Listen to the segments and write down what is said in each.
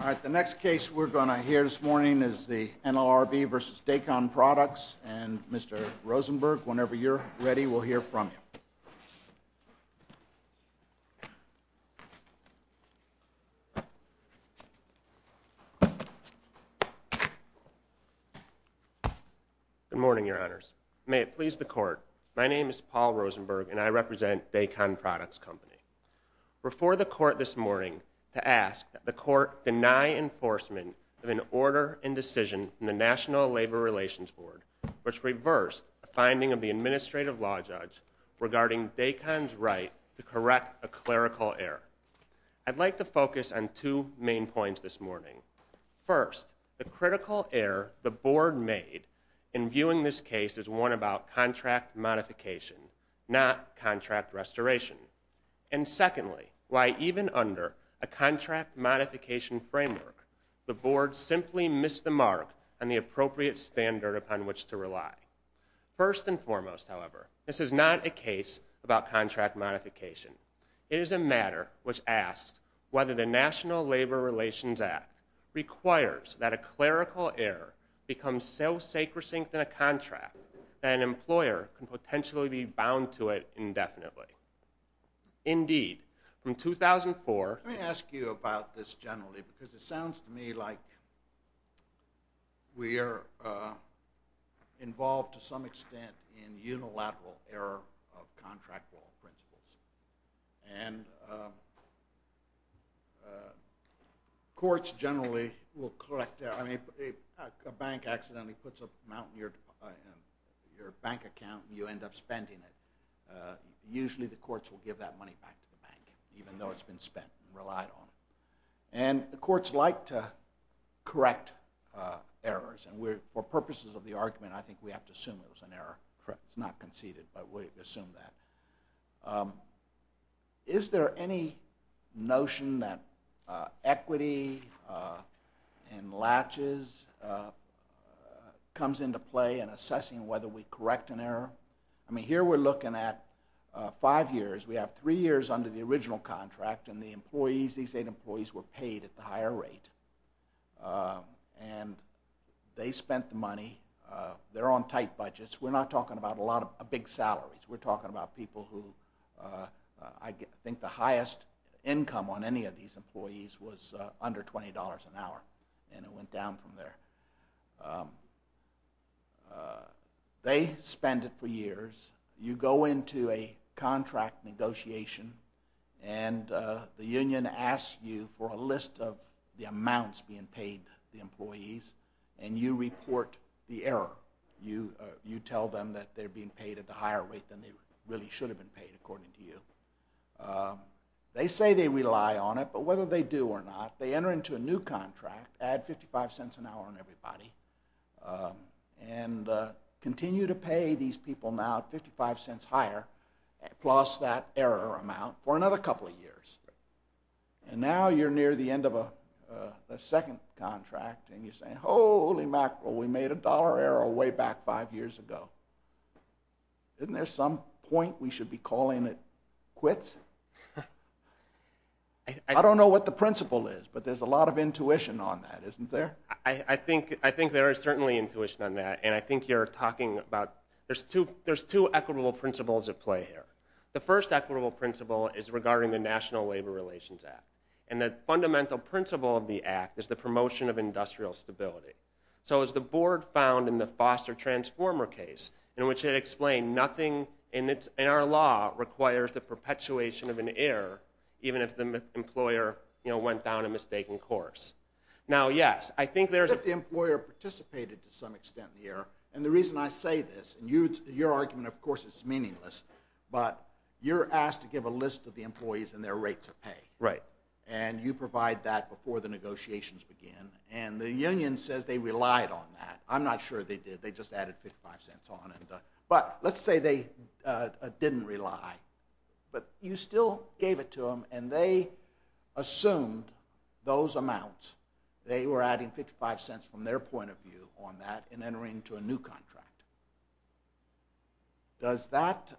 All right, the next case we're going to hear this morning is the NLRB v. Daycon Products and Mr. Rosenberg, whenever you're ready, we'll hear from you. Good morning, your honors. May it please the court, my name is Paul Rosenberg and I represent Daycon Products Company. We're before the court this morning to ask that the court deny enforcement of an order and decision in the National Labor Relations Board which reversed the finding of the administrative law judge regarding Daycon's right to correct a clerical error. I'd like to focus on two main points this morning. First, the critical error the board made in viewing this case as one about contract modification, not contract restoration. And secondly, why even under a contract modification framework, the board simply missed the mark on the appropriate standard upon which to rely. First and foremost, however, this is not a case about contract modification. It is a matter which asks whether the National Labor Relations Act requires that a clerical error become so sacrosanct in a contract that an employer can potentially be bound to it indefinitely. Indeed, in 2004- Let me ask you about this generally because it sounds to me like we are involved to some extent in unilateral error of contract law principles. And courts generally will correct error. A bank accidentally puts a amount in your bank account and you end up spending it. Usually the courts will give that money back to the bank even though it's been spent and relied on. And the courts like to correct errors. And for purposes of the argument, I think we have to assume it was an error. It's not conceded, but we assume that. Is there any notion that equity and latches comes into play in assessing whether we correct an error? I mean, here we're looking at five years. We have three years under the original contract and the employees, these eight employees, were paid at the higher rate. And they spent the money. They're on tight budgets. We're not talking about a lot of big salaries. We're talking about people who I think the highest income on any of these employees was under $20 an hour. And it went down from there. They spend it for years. You go into a contract negotiation and the union asks you for a list of the amounts being paid to the employees. And you report the error. You tell them that they're being paid at a higher rate than they really should have been paid, according to you. They say they rely on it, but whether they do or not, they enter into a new contract, add $0.55 an hour on everybody, and continue to pay these people now at $0.55 higher, plus that error amount, for another couple of years. And now you're near the end of a second contract and you're saying, holy mackerel, we made a dollar error way back five years ago. Isn't there some point we should be calling it quits? I don't know what the principle is, but there's a lot of intuition on that, isn't there? I think there is certainly intuition on that. And I think you're talking about, there's two equitable principles at play here. The first equitable principle is regarding the National Labor Relations Act. And the fundamental principle of the Act is the promotion of industrial stability. So as the board found in the Foster-Transformer case, in which it explained nothing in our law requires the perpetuation of an error, even if the employer went down a mistaken course. Now, yes, I think there's a... You're asked to give a list of the employees and their rate to pay. Right. And you provide that before the negotiations begin. And the union says they relied on that. I'm not sure they did. They just added $0.55 on it. But let's say they didn't rely, but you still gave it to them and they assumed those amounts. They were adding $0.55 from their point of view on that and entering into a new contract. Does that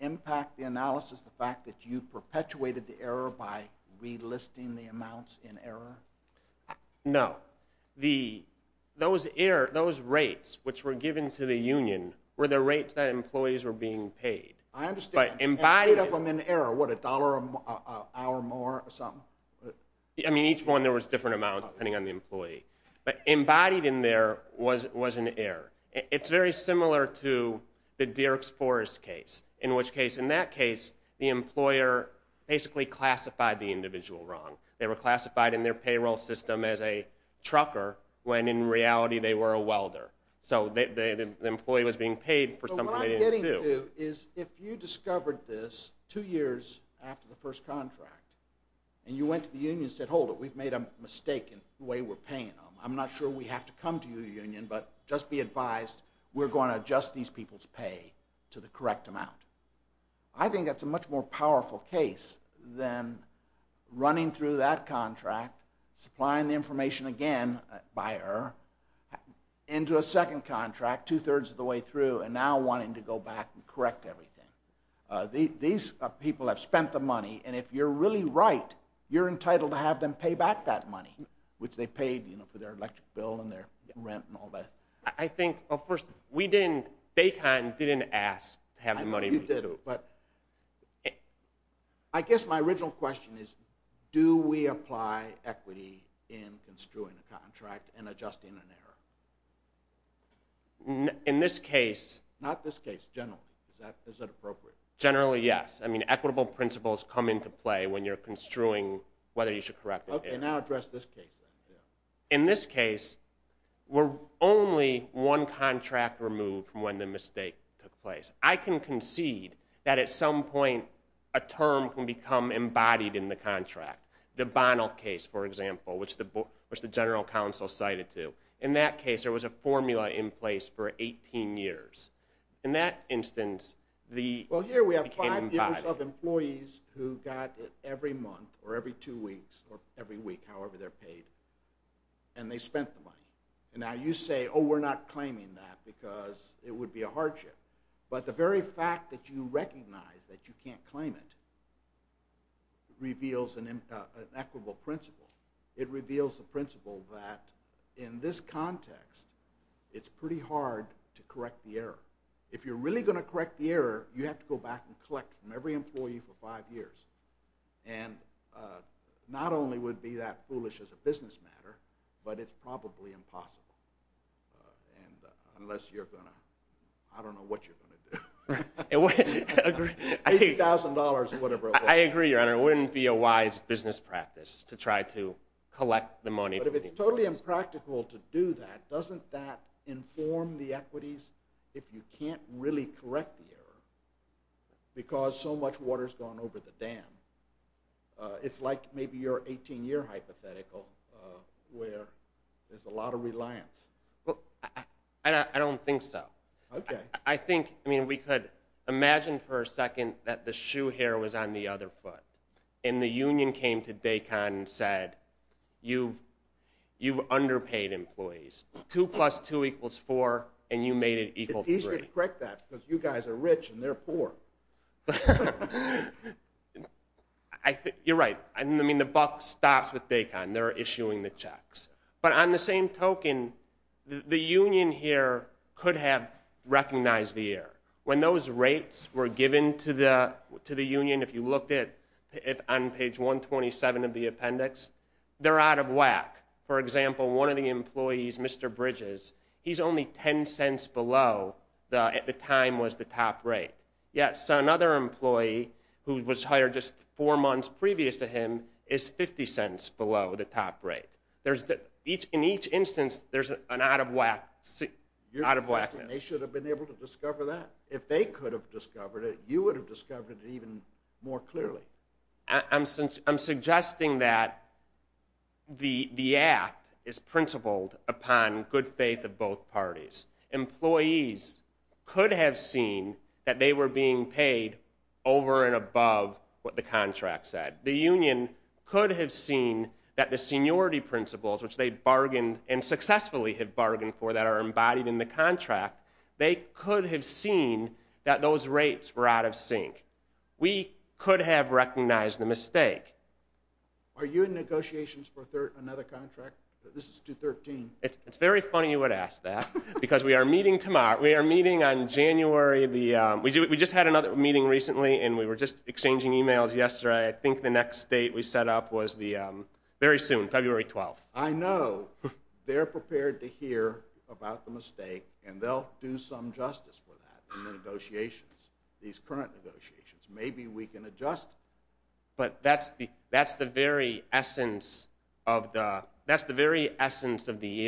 impact the analysis, the fact that you perpetuated the error by relisting the amounts in error? No. Those rates which were given to the union were the rates that employees were being paid. I understand. But embodied in... And the rate of them in error, what, $1 an hour more or something? I mean, each one there was different amounts depending on the employee. But embodied in there was an error. It's very similar to the Dierks Forrest case, in which case, in that case, the employer basically classified the individual wrong. They were classified in their payroll system as a trucker when in reality they were a welder. So the employee was being paid for something they didn't do. So what I'm getting to is if you discovered this two years after the first contract and you went to the union and said, hold it, we've made a mistake in the way we're paying them. I'm not sure we have to come to your union, but just be advised we're going to adjust these people's pay to the correct amount. I think that's a much more powerful case than running through that contract, supplying the information again by error, into a second contract two-thirds of the way through and now wanting to go back and correct everything. These people have spent the money, and if you're really right, you're entitled to have them pay back that money, which they paid for their electric bill and their rent and all that. I think, well, first, we didn't, Baytown didn't ask to have the money. I know you didn't, but I guess my original question is, do we apply equity in construing a contract and adjusting an error? In this case. Not this case, generally. Is that appropriate? Generally, yes. I mean, equitable principles come into play when you're construing whether you should correct an error. And I'll address this case, then. In this case, we're only one contract removed from when the mistake took place. I can concede that at some point a term can become embodied in the contract. The Bonnell case, for example, which the general counsel cited to. In that case, there was a formula in place for 18 years. In that instance, it became embodied. You give yourself employees who got it every month or every two weeks or every week, however they're paid, and they spent the money. And now you say, oh, we're not claiming that because it would be a hardship. But the very fact that you recognize that you can't claim it reveals an equitable principle. It reveals the principle that in this context, it's pretty hard to correct the error. If you're really going to correct the error, you have to go back and collect from every employee for five years. And not only would it be that foolish as a business matter, but it's probably impossible. Unless you're going to, I don't know what you're going to do. $80,000 or whatever. I agree, Your Honor. It wouldn't be a wise business practice to try to collect the money. But if it's totally impractical to do that, doesn't that inform the equities if you can't really correct the error because so much water's gone over the dam? It's like maybe your 18-year hypothetical where there's a lot of reliance. I don't think so. I think, I mean, we could imagine for a second that the shoe here was on the other foot. And the union came to DACON and said, you've underpaid employees. Two plus two equals four, and you made it equal to three. It's easier to correct that because you guys are rich and they're poor. You're right. I mean, the buck stops with DACON. They're issuing the checks. But on the same token, the union here could have recognized the error. When those rates were given to the union, if you looked on page 127 of the appendix, they're out of whack. For example, one of the employees, Mr. Bridges, he's only $0.10 below what at the time was the top rate. Yet another employee who was hired just four months previous to him is $0.50 below the top rate. In each instance, there's an out of whackness. They should have been able to discover that. If they could have discovered it, you would have discovered it even more clearly. I'm suggesting that the act is principled upon good faith of both parties. Employees could have seen that they were being paid over and above what the contract said. The union could have seen that the seniority principles, which they bargained and successfully have bargained for, that are embodied in the contract, they could have seen that those rates were out of sync. We could have recognized the mistake. Are you in negotiations for another contract? This is 213. It's very funny you would ask that because we are meeting tomorrow. We are meeting on January. We just had another meeting recently, and we were just exchanging emails yesterday. I think the next date we set up was very soon, February 12th. I know. They're prepared to hear about the mistake, and they'll do some justice for that in the negotiations, these current negotiations. Maybe we can adjust it. But that's the very essence of the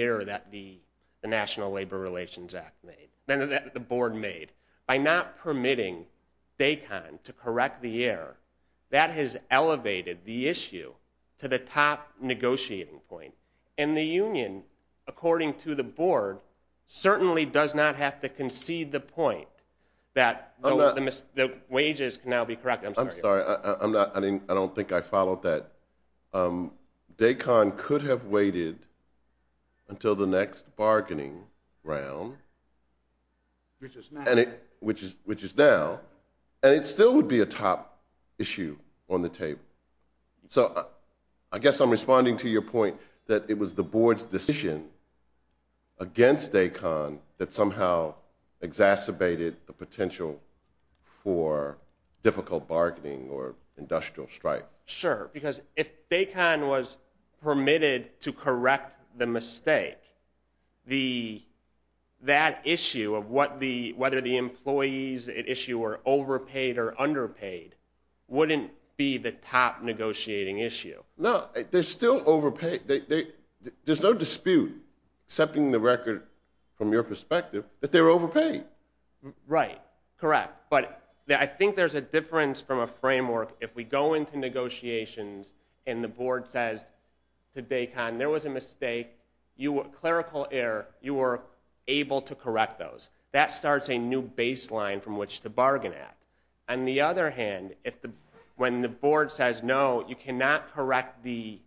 error that the National Labor Relations Act made, that the board made. By not permitting DACON to correct the error, that has elevated the issue to the top negotiating point. And the union, according to the board, certainly does not have to concede the point that the wages can now be corrected. I'm sorry. I don't think I followed that. DACON could have waited until the next bargaining round, which is now, and it still would be a top issue on the table. So I guess I'm responding to your point that it was the board's decision against DACON that somehow exacerbated the potential for difficult bargaining or industrial strike. Sure. Because if DACON was permitted to correct the mistake, that issue of whether the employees at issue were overpaid or underpaid wouldn't be the top negotiating issue. No. They're still overpaid. There's no dispute, accepting the record from your perspective, that they were overpaid. Right. Correct. I think there's a difference from a framework if we go into negotiations and the board says to DACON there was a mistake, clerical error, you were able to correct those. That starts a new baseline from which to bargain at. On the other hand, when the board says no, you cannot correct the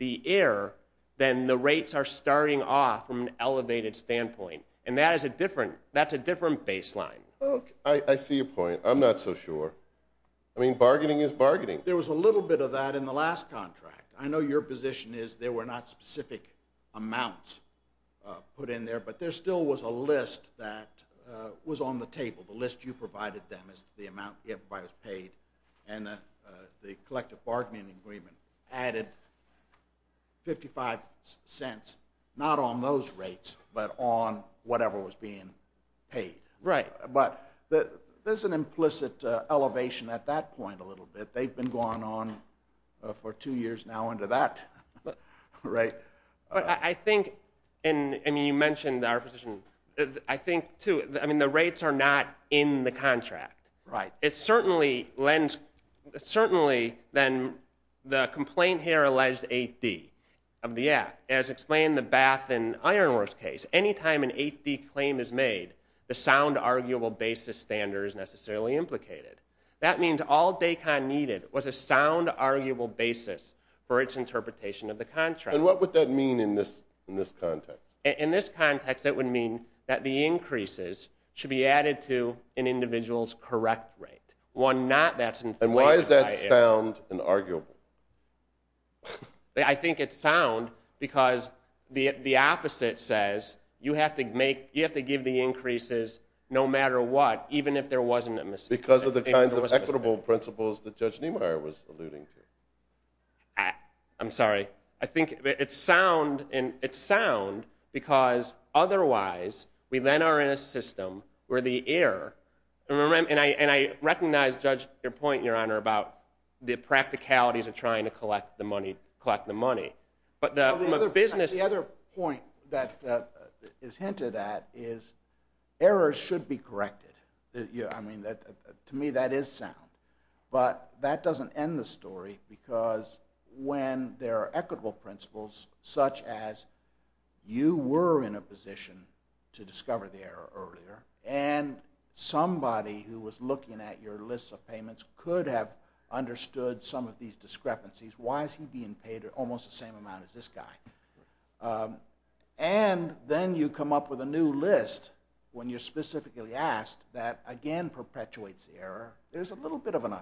error, then the rates are starting off from an elevated standpoint. And that's a different baseline. Okay. I see your point. I'm not so sure. I mean, bargaining is bargaining. There was a little bit of that in the last contract. I know your position is there were not specific amounts put in there, but there still was a list that was on the table. The list you provided them is the amount everybody was paid, and the collective bargaining agreement added 55 cents not on those rates but on whatever was being paid. Right. But there's an implicit elevation at that point a little bit. They've been going on for two years now under that. Right. But I think, and you mentioned our position, I think, too, the rates are not in the contract. Right. Certainly, then, the complaint here alleged 8D of the act, as explained in the Bath and Ironworks case, any time an 8D claim is made, the sound arguable basis standard is necessarily implicated. That means all DACON needed was a sound arguable basis for its interpretation of the contract. And what would that mean in this context? In this context, it would mean that the increases should be added to an individual's correct rate. And why does that sound unarguable? I think it's sound because the opposite says you have to give the increases no matter what, even if there wasn't a mistake. Because of the kinds of equitable principles that Judge Niemeyer was alluding to. I'm sorry. I think it's sound because otherwise we then are in a system where the error, and I recognize, Judge, your point, Your Honor, about the practicalities of trying to collect the money. The other point that is hinted at is errors should be corrected. To me, that is sound. But that doesn't end the story because when there are equitable principles, such as you were in a position to discover the error earlier, and somebody who was looking at your list of payments could have understood some of these discrepancies. Why is he being paid almost the same amount as this guy? And then you come up with a new list when you're specifically asked that again perpetuates the error. There's a little bit of an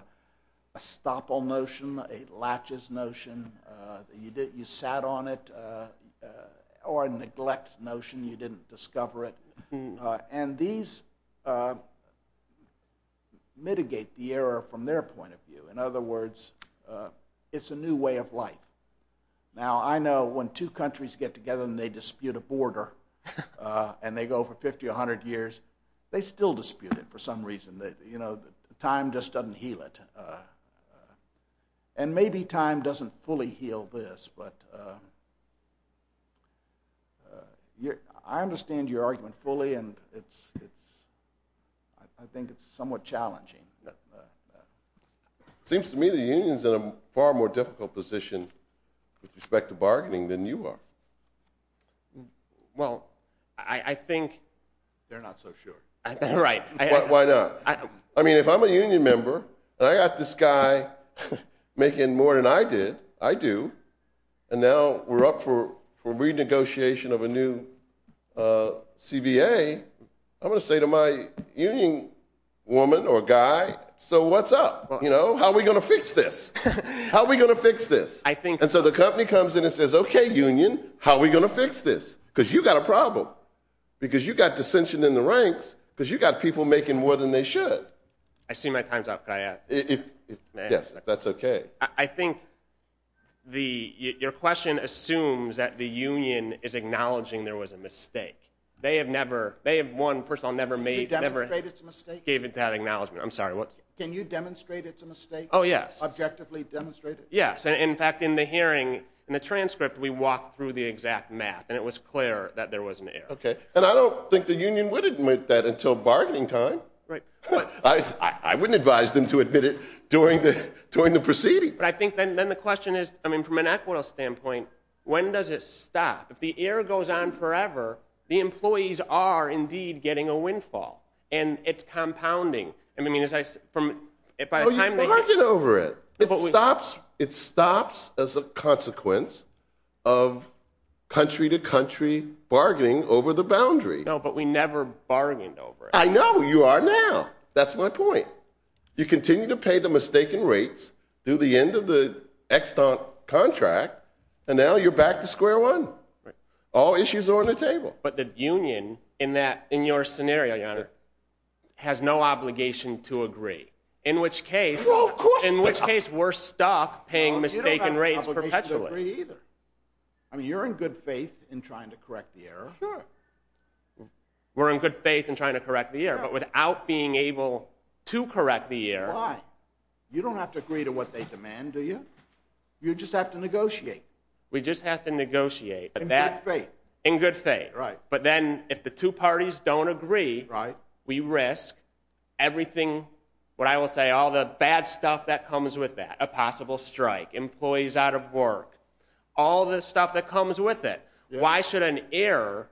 estoppel notion, a latches notion. You sat on it or a neglect notion. You didn't discover it. And these mitigate the error from their point of view. In other words, it's a new way of life. Now, I know when two countries get together and they dispute a border and they go for 50 or 100 years, they still dispute it for some reason. You know, time just doesn't heal it. And maybe time doesn't fully heal this, but I understand your argument fully, and I think it's somewhat challenging. It seems to me the union is in a far more difficult position with respect to bargaining than you are. Well, I think they're not so sure. Right. Why not? I mean, if I'm a union member and I got this guy making more than I did, I do, and now we're up for renegotiation of a new CBA, I'm going to say to my union woman or guy, so what's up? You know, how are we going to fix this? How are we going to fix this? And so the company comes in and says, okay, union, how are we going to fix this? Because you've got a problem, because you've got dissension in the ranks, because you've got people making more than they should. I see my time's up. Could I add? Yes, if that's okay. I think your question assumes that the union is acknowledging there was a mistake. They have never, they have one person that never gave that acknowledgement. I'm sorry, what? Can you demonstrate it's a mistake? Oh, yes. Objectively demonstrate it. Yes, in fact, in the hearing, in the transcript, we walked through the exact math, and it was clear that there was an error. Okay, and I don't think the union would admit that until bargaining time. Right. I wouldn't advise them to admit it during the proceedings. But I think then the question is, I mean, from an equitable standpoint, when does it stop? If the error goes on forever, the employees are indeed getting a windfall, and it's compounding. Oh, you bargain over it. It stops as a consequence of country-to-country bargaining over the boundary. No, but we never bargained over it. I know. You are now. That's my point. You continue to pay the mistaken rates, do the end of the extant contract, and now you're back to square one. All issues are on the table. But the union in your scenario, Your Honor, has no obligation to agree, in which case we're stuck paying mistaken rates perpetually. You don't have obligation to agree either. I mean, you're in good faith in trying to correct the error. Sure. We're in good faith in trying to correct the error, but without being able to correct the error. Why? You don't have to agree to what they demand, do you? You just have to negotiate. We just have to negotiate. In good faith. In good faith. Right. But then if the two parties don't agree, we risk everything, what I will say, all the bad stuff that comes with that, a possible strike, employees out of work, all the stuff that comes with it. Why should an error,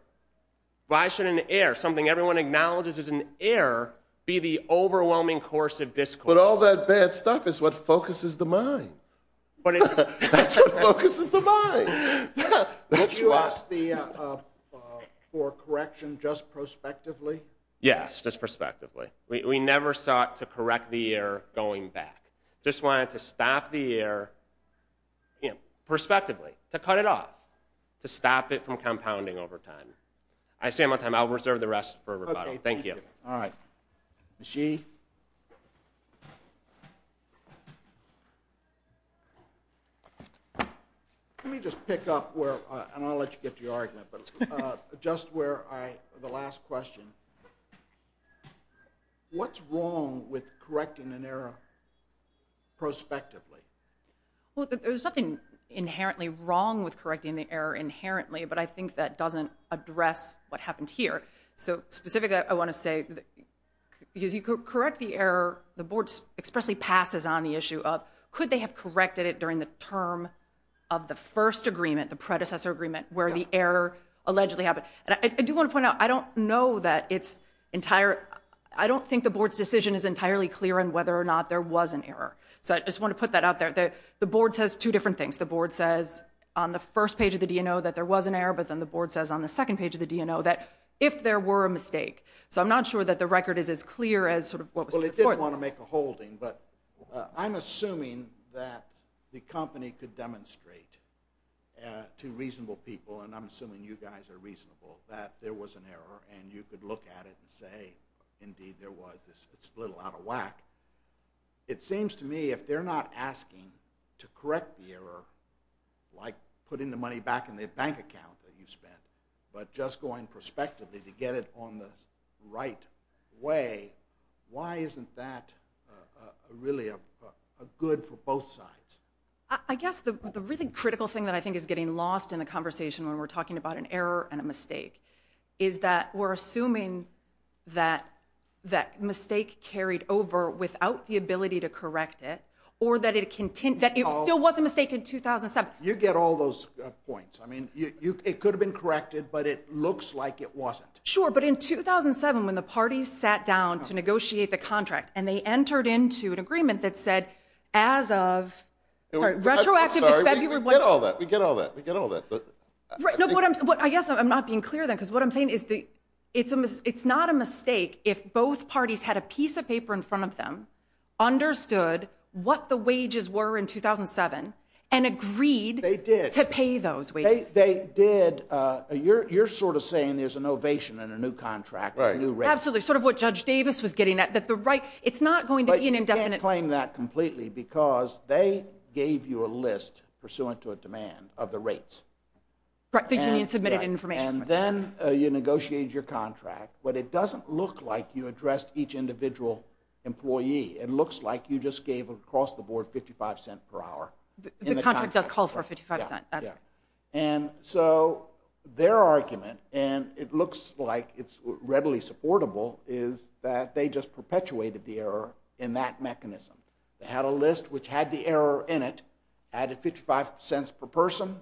something everyone acknowledges is an error, be the overwhelming course of discourse? But all that bad stuff is what focuses the mind. That's what focuses the mind. Would you ask for correction just prospectively? Yes, just prospectively. We never sought to correct the error going back. Just wanted to stop the error prospectively, to cut it off, to stop it from compounding over time. I'll reserve the rest for rebuttal. Thank you. All right. She? Let me just pick up where, and I'll let you get to your argument, but just where I, the last question. What's wrong with correcting an error prospectively? Well, there's nothing inherently wrong with correcting the error inherently, but I think that doesn't address what happened here. So specifically, I want to say, because you correct the error, the board expressly passes on the issue of could they have corrected it during the term of the first agreement, the predecessor agreement, where the error allegedly happened. And I do want to point out, I don't know that it's entire, I don't think the board's decision is entirely clear on whether or not there was an error. So I just want to put that out there. The board says two different things. The board says on the first page of the DNO that there was an error, but then the board says on the second page of the DNO that if there were a mistake. So I'm not sure that the record is as clear as sort of what was reported. Well, it did want to make a holding, but I'm assuming that the company could demonstrate to reasonable people, and I'm assuming you guys are reasonable, that there was an error, and you could look at it and say, indeed, there was. It's a little out of whack. It seems to me if they're not asking to correct the error, like putting the money back in their bank account that you spent, but just going prospectively to get it on the right way, why isn't that really good for both sides? I guess the really critical thing that I think is getting lost in the conversation when we're talking about an error and a mistake is that we're assuming that that mistake carried over without the ability to correct it, or that it still was a mistake in 2007. You get all those points. It could have been corrected, but it looks like it wasn't. Sure, but in 2007 when the parties sat down to negotiate the contract and they entered into an agreement that said as of... Sorry, we get all that. I guess I'm not being clear then because what I'm saying is it's not a mistake if both parties had a piece of paper in front of them, understood what the wages were in 2007, and agreed to pay those wages. They did. You're sort of saying there's an ovation in a new contract, a new rate. Absolutely, sort of what Judge Davis was getting at, that it's not going to be an indefinite... But you can't claim that completely because they gave you a list, pursuant to a demand, of the rates. The union submitted information. Then you negotiated your contract, but it doesn't look like you addressed each individual employee. It looks like you just gave across the board $0.55 per hour. The contract does call for $0.55. So their argument, and it looks like it's readily supportable, is that they just perpetuated the error in that mechanism. They had a list which had the error in it, added $0.55 per person,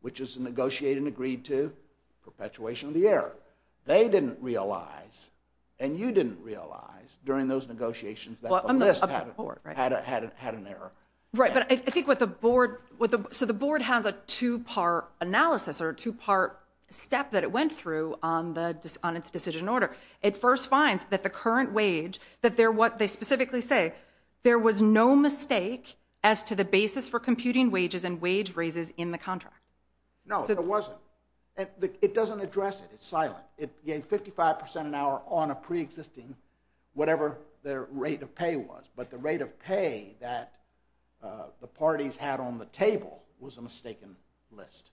which is negotiated and agreed to, perpetuation of the error. They didn't realize, and you didn't realize, during those negotiations that the list had an error. Right, but I think what the board... So the board has a two-part analysis, or a two-part step that it went through on its decision order. It first finds that the current wage, that they specifically say, there was no mistake as to the basis for computing wages and wage raises in the contract. No, there wasn't. It doesn't address it. It's silent. It gave 55% an hour on a pre-existing, whatever their rate of pay was. But the rate of pay that the parties had on the table was a mistaken list.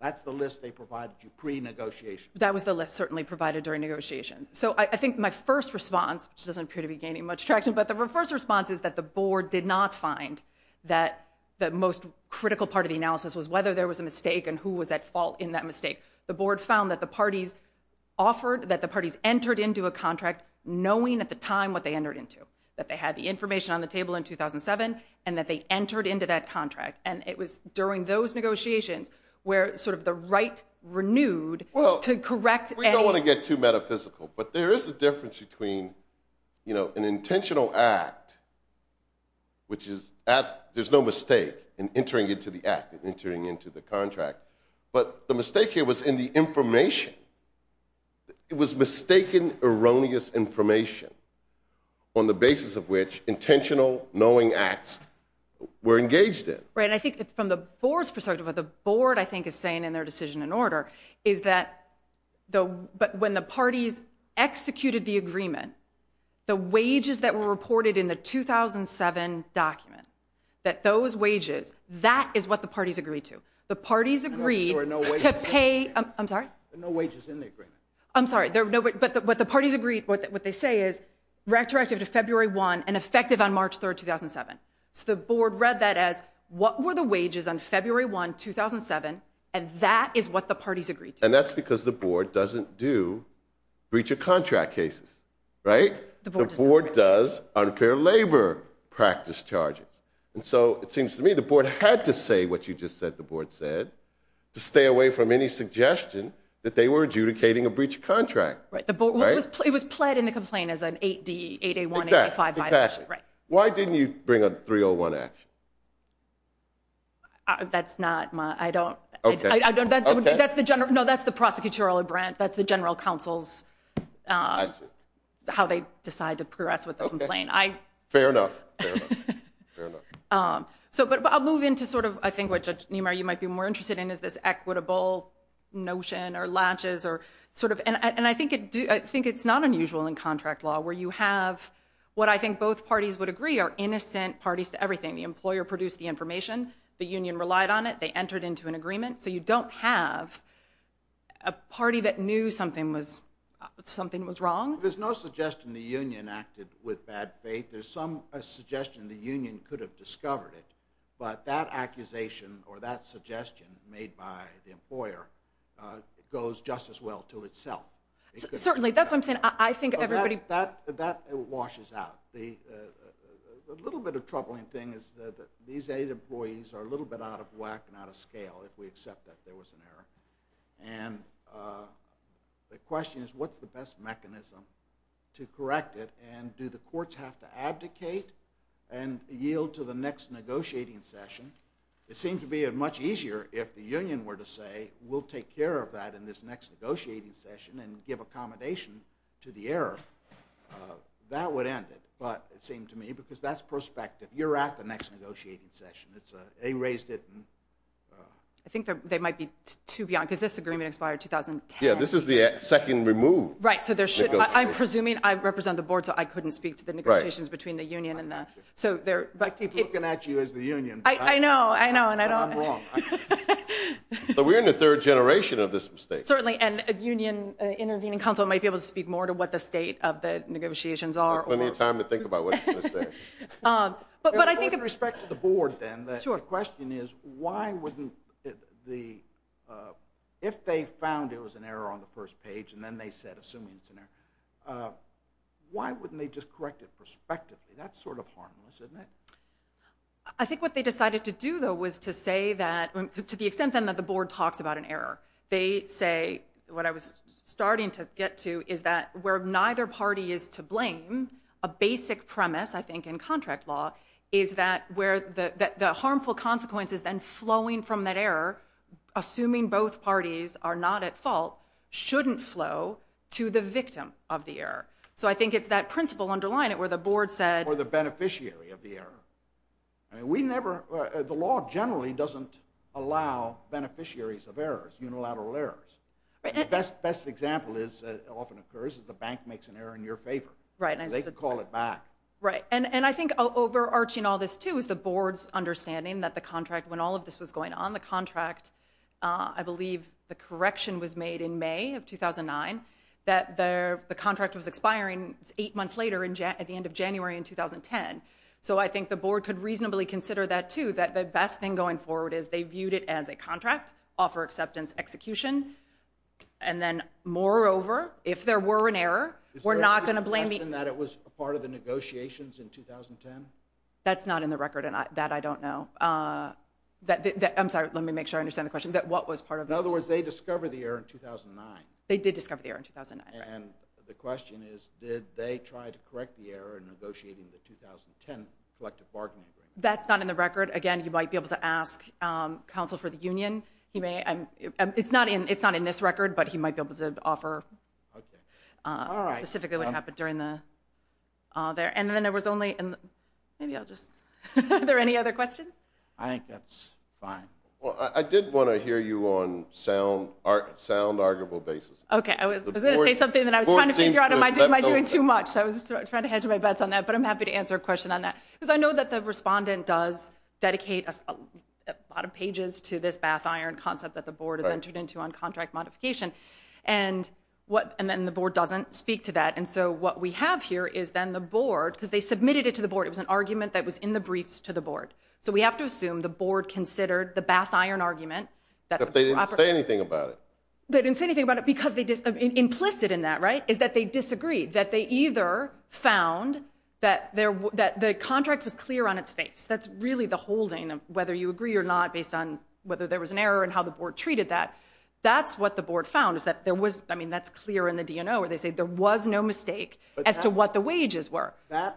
That's the list they provided you pre-negotiation. That was the list certainly provided during negotiations. So I think my first response, which doesn't appear to be gaining much traction, but the first response is that the board did not find that the most critical part of the analysis was whether there was a mistake and who was at fault in that mistake. The board found that the parties offered, that the parties entered into a contract knowing at the time what they entered into, that they had the information on the table in 2007 and that they entered into that contract. And it was during those negotiations where sort of the right renewed to correct a... Well, we don't want to get too metaphysical, but there is a difference between an intentional act, which is, there's no mistake in entering into the act, entering into the contract. But the mistake here was in the information. It was mistaken, erroneous information on the basis of which intentional, knowing acts were engaged in. Right, and I think from the board's perspective, what the board I think is saying in their decision and order, is that when the parties executed the agreement, the wages that were reported in the 2007 document, that those wages, that is what the parties agreed to. The parties agreed to pay... I'm sorry? There are no wages in the agreement. I'm sorry, but what the parties agreed, what they say is retroactive to February 1 and effective on March 3, 2007. So the board read that as, what were the wages on February 1, 2007, and that is what the parties agreed to. And that's because the board doesn't do breach of contract cases. Right? The board does unfair labor practice charges. And so it seems to me the board had to say what you just said the board said to stay away from any suggestion that they were adjudicating a breach of contract. Right, it was pled in the complaint as an 8A185 violation. Exactly. Why didn't you bring a 301 action? That's not my... No, that's the prosecutorial branch. That's the general counsel's, how they decide to progress with the complaint. Fair enough. But I'll move into sort of, I think what, Judge Niemeyer, you might be more interested in is this equitable notion or latches or sort of... And I think it's not unusual in contract law where you have what I think both parties would agree are innocent parties to everything. The employer produced the information, the union relied on it, they entered into an agreement. So you don't have a party that knew something was wrong. There's no suggestion the union acted with bad faith. There's some suggestion the union could have discovered it. But that accusation or that suggestion made by the employer goes just as well to itself. Certainly. That's what I'm saying. I think everybody... That washes out. The little bit of troubling thing is that these eight employees are a little bit out of whack and out of scale if we accept that there was an error. And the question is what's the best mechanism to correct it and do the courts have to abdicate and yield to the next negotiating session? It seems to be much easier if the union were to say, we'll take care of that in this next negotiating session and give accommodation to the error. That would end it. But it seemed to me because that's perspective. You're at the next negotiating session. They raised it. I think they might be too beyond because this agreement expired 2010. Yeah, this is the second removed negotiation. Right, so I'm presuming I represent the board so I couldn't speak to the negotiations between the union and the... I keep looking at you as the union. I know, I know. I'm wrong. But we're in the third generation of this mistake. Certainly. And a union intervening council might be able to speak more to what the state of the negotiations are or... Plenty of time to think about what it's going to say. But I think... With respect to the board then, the question is why wouldn't the... If they found there was an error on the first page and then they said assuming it's an error, why wouldn't they just correct it prospectively? That's sort of harmless, isn't it? I think what they decided to do though was to say that... to the extent then that the board talks about an error. They say, what I was starting to get to, is that where neither party is to blame, a basic premise I think in contract law, is that where the harmful consequences then flowing from that error, assuming both parties are not at fault, shouldn't flow to the victim of the error. So I think it's that principle underlying it where the board said... Or the beneficiary of the error. We never... The law generally doesn't allow beneficiaries of errors, unilateral errors. The best example is... It often occurs that the bank makes an error in your favor. They can call it back. Right. And I think overarching all this too is the board's understanding that the contract, when all of this was going on, the contract... I believe the correction was made in May of 2009 that the contract was expiring eight months later at the end of January in 2010. So I think the board could reasonably consider that too, that the best thing going forward is they viewed it as a contract, offer acceptance, execution. And then moreover, if there were an error, we're not going to blame... Is there a reason that it was part of the negotiations in 2010? That's not in the record and that I don't know. I'm sorry. Let me make sure I understand the question. What was part of the negotiations? In other words, they discovered the error in 2009. They did discover the error in 2009. And the question is, did they try to correct the error in negotiating the 2010 collective bargaining agreement? That's not in the record. Again, you might be able to ask counsel for the union. He may... It's not in this record, but he might be able to offer... Okay. All right. ...specifically what happened during the... And then there was only... Maybe I'll just... Are there any other questions? I think that's fine. Well, I did want to hear you on sound arguable basis. Okay. I was going to say something that I was trying to figure out. Am I doing too much? I was trying to hedge my bets on that, but I'm happy to answer a question on that. Because I know that the respondent does dedicate a lot of pages to this bath iron concept that the board has entered into on contract modification, and then the board doesn't speak to that. And so what we have here is then the board, because they submitted it to the board. It was an argument that was in the briefs to the board. So we have to assume the board considered the bath iron argument... But they didn't say anything about it. They didn't say anything about it because they... Implicit in that, right, is that they disagreed, that they either found that the contract was clear on its face. That's really the holding of whether you agree or not based on whether there was an error and how the board treated that. That's what the board found, is that there was... I mean, that's clear in the DNO where they say there was no mistake as to what the wages were. That's...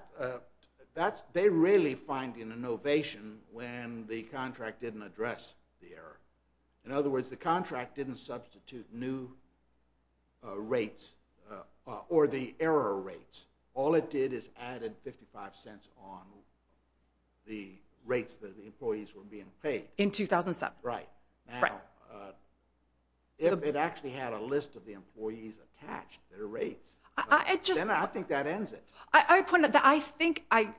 They really find an innovation when the contract didn't address the error. In other words, the contract didn't substitute new rates or the error rates. All it did is added 55 cents on the rates that the employees were being paid. In 2007. Right. Now, if it actually had a list of the employees attached, their rates, then I think that ends it. I think I...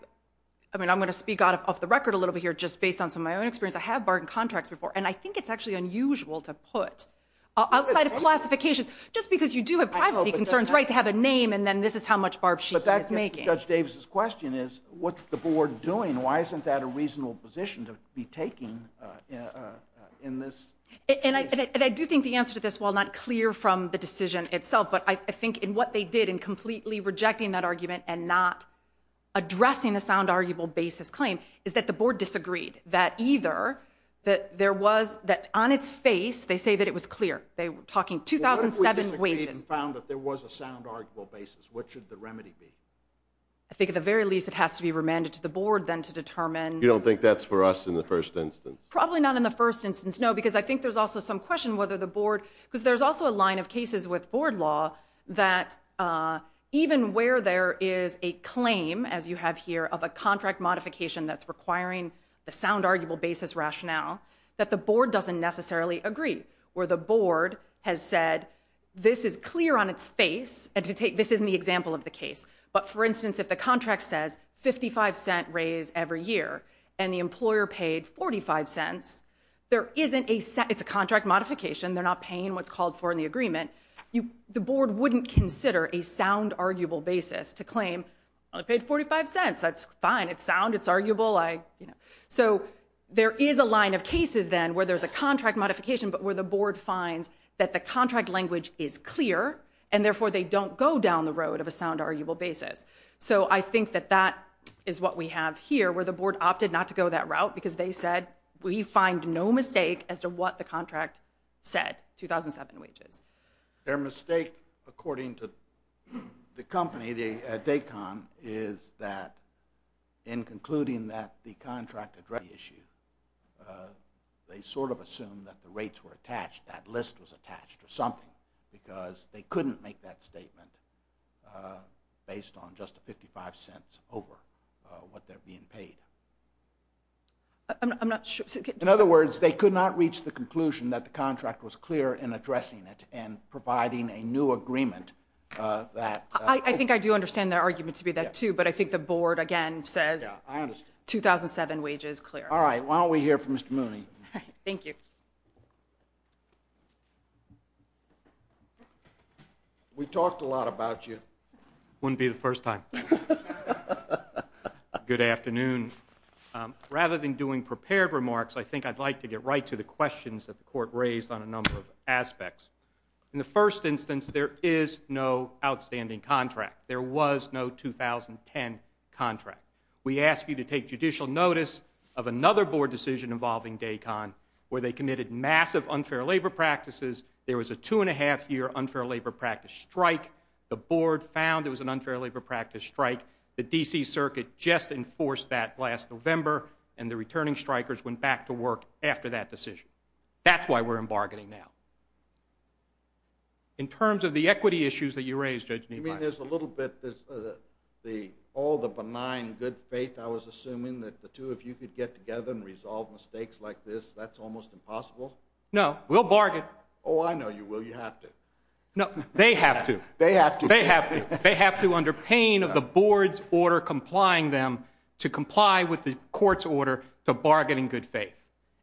I mean, I'm going to speak off the record a little bit here just based on some of my own experience. I have barred contracts before, and I think it's actually unusual to put, outside of classification, just because you do have privacy concerns, right, to have a name, and then this is how much barbshearing is making. But that's Judge Davis's question, is what's the board doing? Why isn't that a reasonable position to be taking in this case? And I do think the answer to this, while not clear from the decision itself, but I think in what they did in completely rejecting that argument and not addressing the sound, arguable basis claim, is that the board disagreed, that either there was, that on its face, they say that it was clear. They were talking 2007 wages. What if we disagreed and found that there was a sound, arguable basis? What should the remedy be? I think at the very least it has to be remanded to the board then to determine. You don't think that's for us in the first instance? Probably not in the first instance, no, because I think there's also some question whether the board, because there's also a line of cases with board law that even where there is a claim, as you have here, of a contract modification that's requiring the sound, arguable basis rationale, that the board doesn't necessarily agree, where the board has said this is clear on its face, and this isn't the example of the case, but for instance if the contract says 55 cent raise every year and the employer paid 45 cents, it's a contract modification. They're not paying what's called for in the agreement. The board wouldn't consider a sound, arguable basis to claim, I paid 45 cents, that's fine, it's sound, it's arguable. So there is a line of cases then where there's a contract modification, but where the board finds that the contract language is clear, and therefore they don't go down the road of a sound, arguable basis. So I think that that is what we have here, where the board opted not to go that route, because they said we find no mistake as to what the contract said, 2007 wages. Their mistake according to the company, DACON, is that in concluding that the contract addressed the issue, they sort of assumed that the rates were attached, that list was attached or something, because they couldn't make that statement based on just the 55 cents over what they're being paid. I'm not sure. In other words, they could not reach the conclusion that the contract was clear in addressing it and providing a new agreement. I think I do understand their argument to be that too, but I think the board, again, says 2007 wages, clear. All right, why don't we hear from Mr. Mooney. Thank you. We talked a lot about you. Wouldn't be the first time. Good afternoon. Rather than doing prepared remarks, I think I'd like to get right to the questions that the court raised on a number of aspects. In the first instance, there is no outstanding contract. There was no 2010 contract. We ask you to take judicial notice of another board decision involving DACON where they committed massive unfair labor practices. There was a two-and-a-half-year unfair labor practice strike. The board found it was an unfair labor practice strike. The D.C. Circuit just enforced that last November, and the returning strikers went back to work after that decision. That's why we're in bargaining now. In terms of the equity issues that you raised, Judge Niemeyer. I mean, there's a little bit of all the benign good faith I was assuming that the two of you could get together and resolve mistakes like this. That's almost impossible. No, we'll bargain. Oh, I know you will. You have to. No, they have to. They have to. They have to. They have to under pain of the board's order complying them to comply with the court's order to bargain in good faith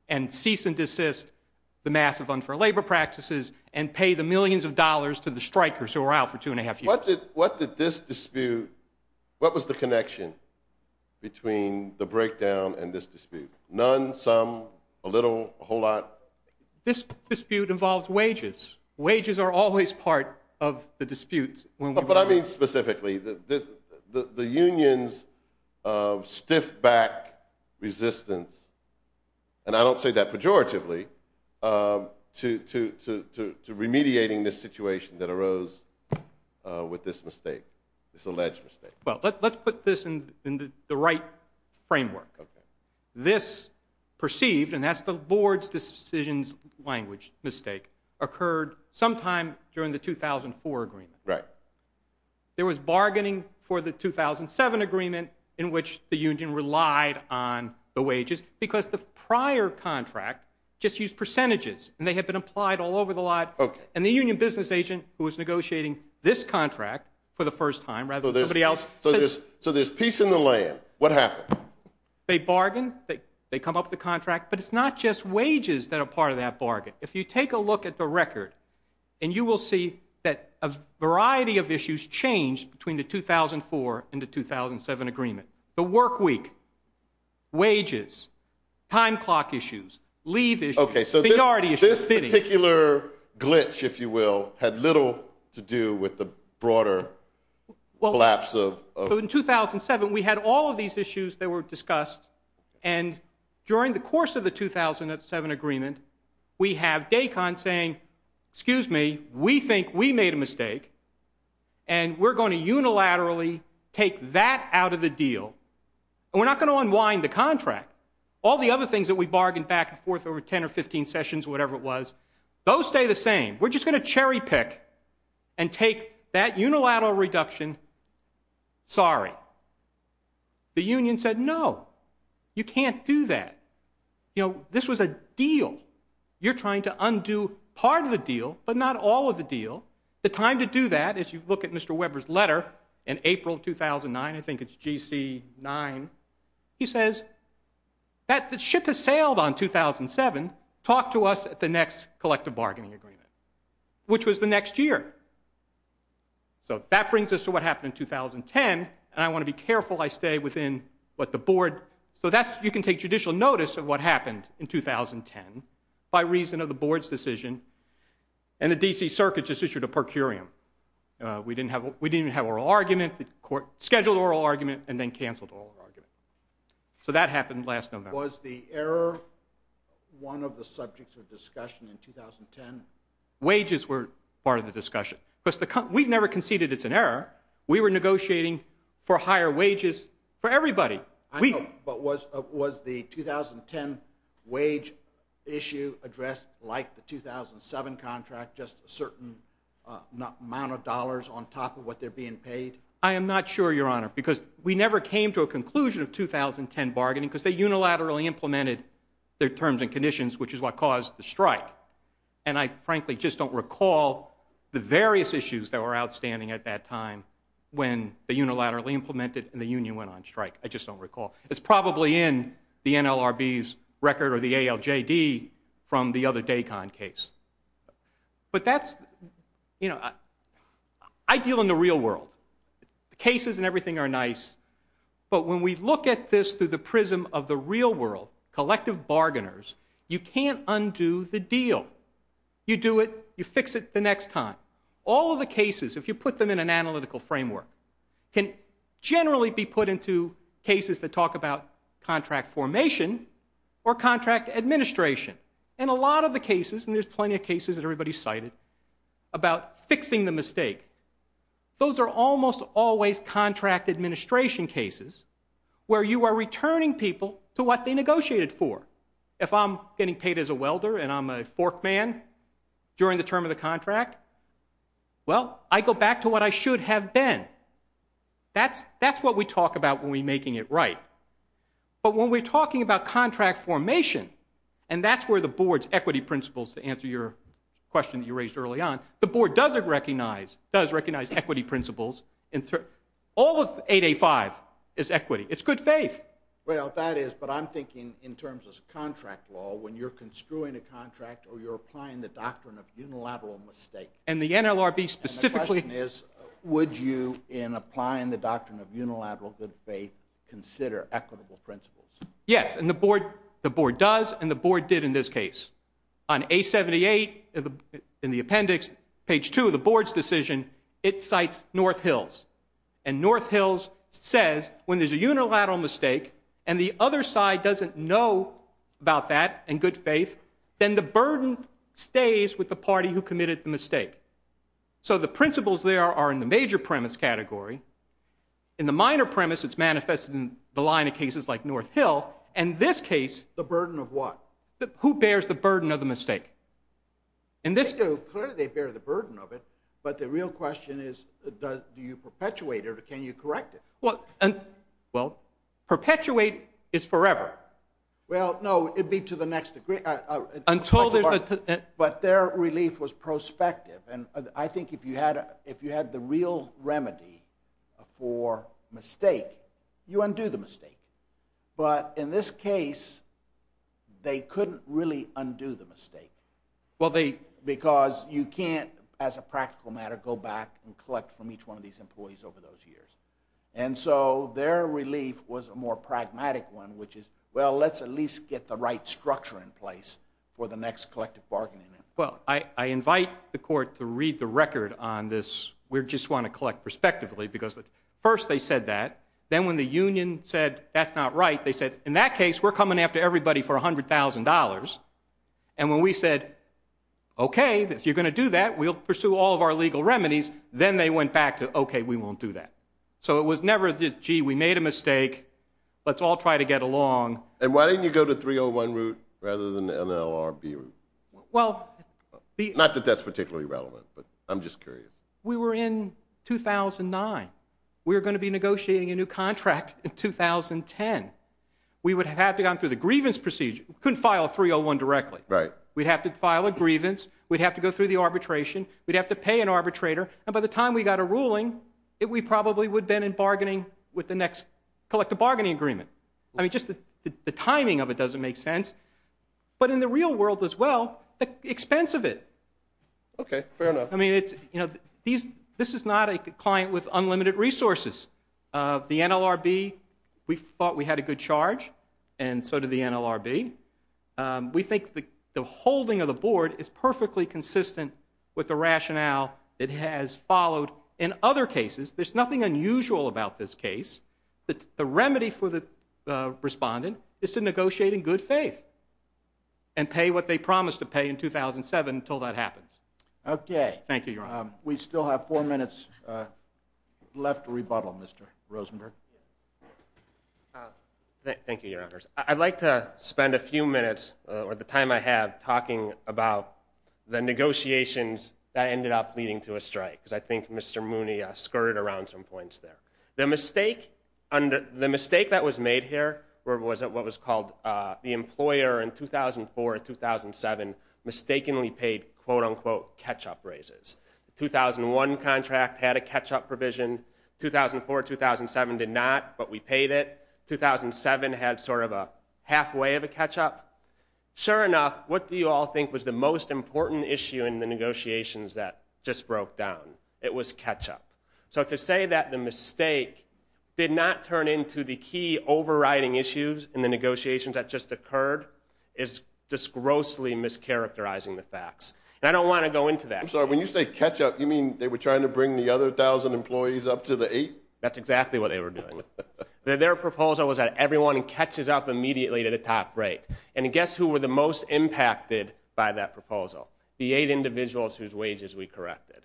and cease and desist the massive unfair labor practices and pay the millions of dollars to the strikers who are out for two-and-a-half years. What did this dispute, what was the connection between the breakdown and this dispute? None, some, a little, a whole lot? This dispute involves wages. Wages are always part of the disputes. But I mean specifically the unions stiff back resistance, and I don't say that pejoratively, to remediating this situation that arose with this mistake, this alleged mistake. Well, let's put this in the right framework. This perceived, and that's the board's decisions language mistake, occurred sometime during the 2004 agreement. Right. There was bargaining for the 2007 agreement in which the union relied on the wages because the prior contract just used percentages, and they had been applied all over the lot. Okay. And the union business agent who was negotiating this contract for the first time rather than somebody else. So there's peace in the land. What happened? They bargained, they come up with the contract, but it's not just wages that are part of that bargain. If you take a look at the record, and you will see that a variety of issues changed between the 2004 and the 2007 agreement. The work week, wages, time clock issues, leave issues. Okay, so this particular glitch, if you will, had little to do with the broader collapse of... In 2007, we had all of these issues that were discussed, and during the course of the 2007 agreement, we have Daikon saying, excuse me, we think we made a mistake, and we're going to unilaterally take that out of the deal. And we're not going to unwind the contract. All the other things that we bargained back and forth over 10 or 15 sessions, whatever it was, those stay the same. We're just going to cherry pick and take that unilateral reduction. Sorry. The union said, no, you can't do that. You know, this was a deal. You're trying to undo part of the deal, but not all of the deal. The time to do that, if you look at Mr. Weber's letter, in April 2009, I think it's GC9, he says, the ship has sailed on 2007. Talk to us at the next collective bargaining agreement, which was the next year. So that brings us to what happened in 2010, and I want to be careful I stay within what the board... So you can take judicial notice of what happened in 2010 by reason of the board's decision, and the D.C. Circuit just issued a per curiam. We didn't even have oral argument. The court scheduled oral argument and then canceled oral argument. So that happened last November. Was the error one of the subjects of discussion in 2010? Wages were part of the discussion. We've never conceded it's an error. We were negotiating for higher wages for everybody. I know, but was the 2010 wage issue addressed like the 2007 contract, just a certain amount of dollars on top of what they're being paid? I am not sure, Your Honor, because we never came to a conclusion of 2010 bargaining because they unilaterally implemented their terms and conditions, which is what caused the strike. And I frankly just don't recall the various issues that were outstanding at that time when they unilaterally implemented and the union went on strike. I just don't recall. It's probably in the NLRB's record or the ALJD from the other DACON case. But that's... You know, I deal in the real world. The cases and everything are nice, but when we look at this through the prism of the real world, collective bargainers, you can't undo the deal. You do it, you fix it the next time. All of the cases, if you put them in an analytical framework, can generally be put into cases that talk about contract formation or contract administration. And a lot of the cases, and there's plenty of cases that everybody's cited, about fixing the mistake, those are almost always contract administration cases where you are returning people to what they negotiated for. If I'm getting paid as a welder and I'm a fork man during the term of the contract, well, I go back to what I should have been. That's what we talk about when we're making it right. But when we're talking about contract formation, and that's where the board's equity principles, to answer your question that you raised early on, the board does recognize equity principles. All of 8A-5 is equity. It's good faith. Well, that is, but I'm thinking in terms of contract law, when you're construing a contract or you're applying the doctrine of unilateral mistake... And the NLRB specifically... And the question is, would you, in applying the doctrine of unilateral good faith, consider equitable principles? Yes, and the board does, and the board did in this case. On A-78, in the appendix, page 2 of the board's decision, it cites North Hills. And North Hills says when there's a unilateral mistake and the other side doesn't know about that and good faith, then the burden stays with the party who committed the mistake. So the principles there are in the major premise category. In the minor premise, it's manifested in the line of cases like North Hill. In this case... The burden of what? Who bears the burden of the mistake? Clearly they bear the burden of it, but the real question is, do you perpetuate it or can you correct it? Well, perpetuate is forever. Forever. Well, no, it'd be to the next degree. Until there's a... But their relief was prospective, and I think if you had the real remedy for mistake, you undo the mistake. But in this case, they couldn't really undo the mistake. Well, they... Because you can't, as a practical matter, go back and collect from each one of these employees over those years. And so their relief was a more pragmatic one, which is, well, let's at least get the right structure in place for the next collective bargaining. Well, I invite the court to read the record on this. We just want to collect prospectively because first they said that. Then when the union said, that's not right, they said, in that case, we're coming after everybody for $100,000. And when we said, okay, if you're going to do that, we'll pursue all of our legal remedies, then they went back to, okay, we won't do that. So it was never just, gee, we made a mistake, let's all try to get along. And why didn't you go to the 301 route rather than the NLRB route? Well... Not that that's particularly relevant, but I'm just curious. We were in 2009. We were going to be negotiating a new contract in 2010. We would have had to have gone through the grievance procedure. We couldn't file a 301 directly. Right. We'd have to file a grievance, we'd have to go through the arbitration, we'd have to pay an arbitrator, and by the time we got a ruling, we probably would have been in bargaining with the next collective bargaining agreement. I mean, just the timing of it doesn't make sense. But in the real world, as well, the expense of it. Okay, fair enough. I mean, it's, you know, this is not a client with unlimited resources. The NLRB, we thought we had a good charge, and so did the NLRB. We think the holding of the board is perfectly consistent with the rationale it has followed. In other cases, there's nothing unusual about this case. The remedy for the respondent is to negotiate in good faith and pay what they promised to pay in 2007 until that happens. Okay. Thank you, Your Honor. We still have four minutes left to rebuttal. Mr. Rosenberg. Thank you, Your Honors. I'd like to spend a few minutes, or the time I have, talking about the negotiations that ended up leading to a strike, because I think Mr. Mooney skirted around some points there. The mistake that was made here was what was called the employer in 2004-2007 mistakenly paid quote-unquote catch-up raises. The 2001 contract had a catch-up provision. 2004-2007 did not, but we paid it. 2007 had sort of a halfway of a catch-up. Sure enough, what do you all think was the most important issue in the negotiations that just broke down? It was catch-up. So to say that the mistake did not turn into the key overriding issues in the negotiations that just occurred is just grossly mischaracterizing the facts. And I don't want to go into that. I'm sorry, when you say catch-up, you mean they were trying to bring the other 1,000 employees up to the 8? That's exactly what they were doing. Their proposal was that everyone catches up immediately to the top rate. And guess who were the most impacted by that proposal? The 8 individuals whose wages we corrected.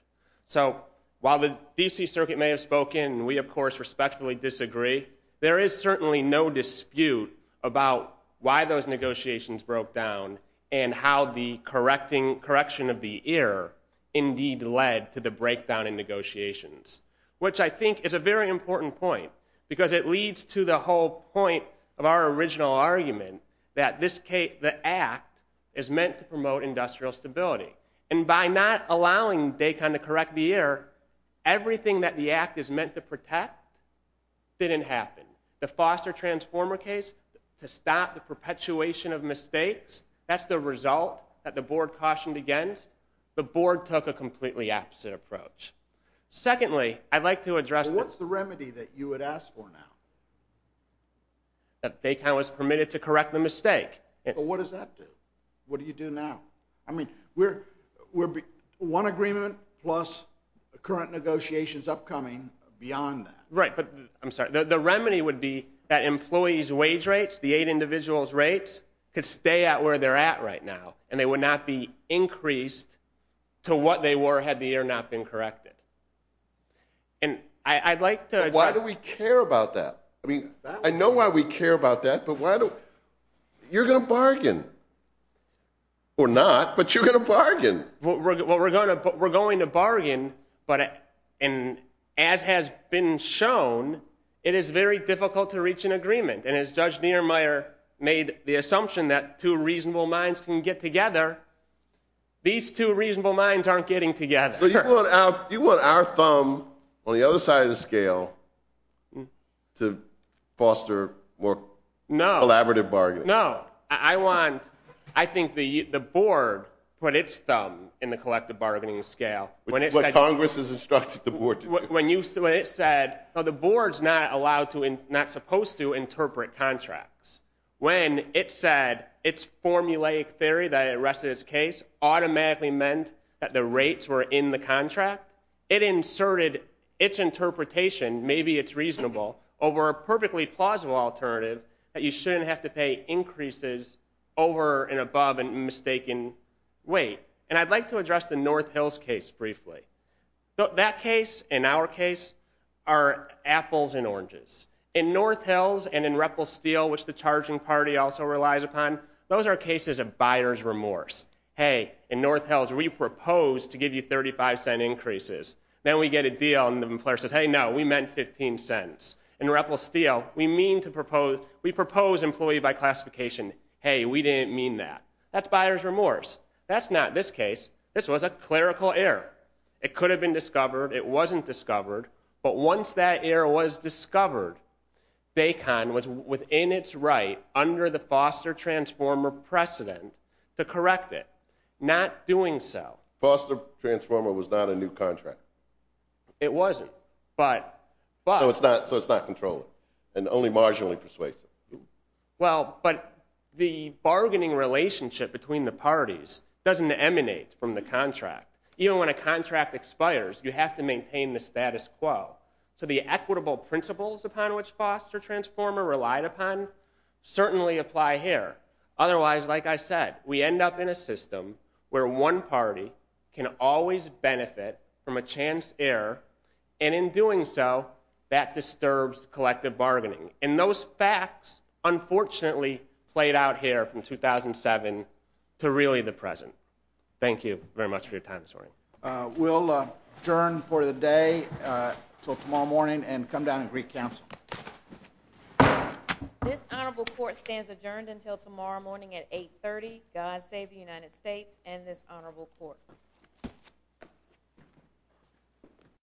So while the D.C. Circuit may have spoken, and we of course respectfully disagree, there is certainly no dispute about why those negotiations broke down and how the correction of the ear indeed led to the breakdown in negotiations, which I think is a very important point, because it leads to the whole point of our original argument that the act is meant to promote industrial stability. And by not allowing DACON to correct the ear, everything that the act is meant to protect didn't happen. The Foster Transformer case, to stop the perpetuation of mistakes, that's the result that the board cautioned against. The board took a completely opposite approach. Secondly, I'd like to address... But what's the remedy that you would ask for now? That DACON was permitted to correct the mistake. But what does that do? What do you do now? I mean, one agreement plus current negotiations upcoming beyond that. Right, but I'm sorry. The remedy would be that employees' wage rates, the 8 individuals' rates, could stay at where they're at right now, and they would not be increased to what they were had the ear not been corrected. And I'd like to address... But why do we care about that? I mean, I know why we care about that, but why do... You're going to bargain. Or not, but you're going to bargain. Well, we're going to bargain, but as has been shown, it is very difficult to reach an agreement. And as Judge Niemeyer made the assumption that two reasonable minds can get together, these two reasonable minds aren't getting together. So you want our thumb on the other side of the scale to foster more collaborative bargaining? No, I want... I think the board put its thumb in the collective bargaining scale. What Congress has instructed the board to do. When it said, the board's not supposed to interpret contracts. When it said its formulaic theory that arrested its case automatically meant that the rates were in the contract, it inserted its interpretation, maybe it's reasonable, over a perfectly plausible alternative that you shouldn't have to pay increases over and above a mistaken weight. And I'd like to address the North Hills case briefly. That case and our case are apples and oranges. In North Hills and in Ripple Steel, which the charging party also relies upon, those are cases of buyer's remorse. Hey, in North Hills, we proposed to give you 35-cent increases. Then we get a deal and the employer says, hey, no, we meant 15 cents. In Ripple Steel, we propose employee by classification. Hey, we didn't mean that. That's buyer's remorse. That's not this case. This was a clerical error. It could have been discovered. It wasn't discovered. But once that error was discovered, Baycon was within its right under the Foster Transformer precedent to correct it, not doing so. Foster Transformer was not a new contract. It wasn't, but... So it's not controllable and only marginally persuasive. Well, but the bargaining relationship between the parties doesn't emanate from the contract. Even when a contract expires, you have to maintain the status quo. So the equitable principles upon which Foster Transformer relied upon certainly apply here. Otherwise, like I said, we end up in a system where one party can always benefit from a chance error, And those facts, unfortunately, played out here from 2007 to really the present. Thank you very much for your time this morning. We'll adjourn for the day until tomorrow morning and come down and greet counsel. This honorable court stands adjourned until tomorrow morning at 8.30. God save the United States and this honorable court.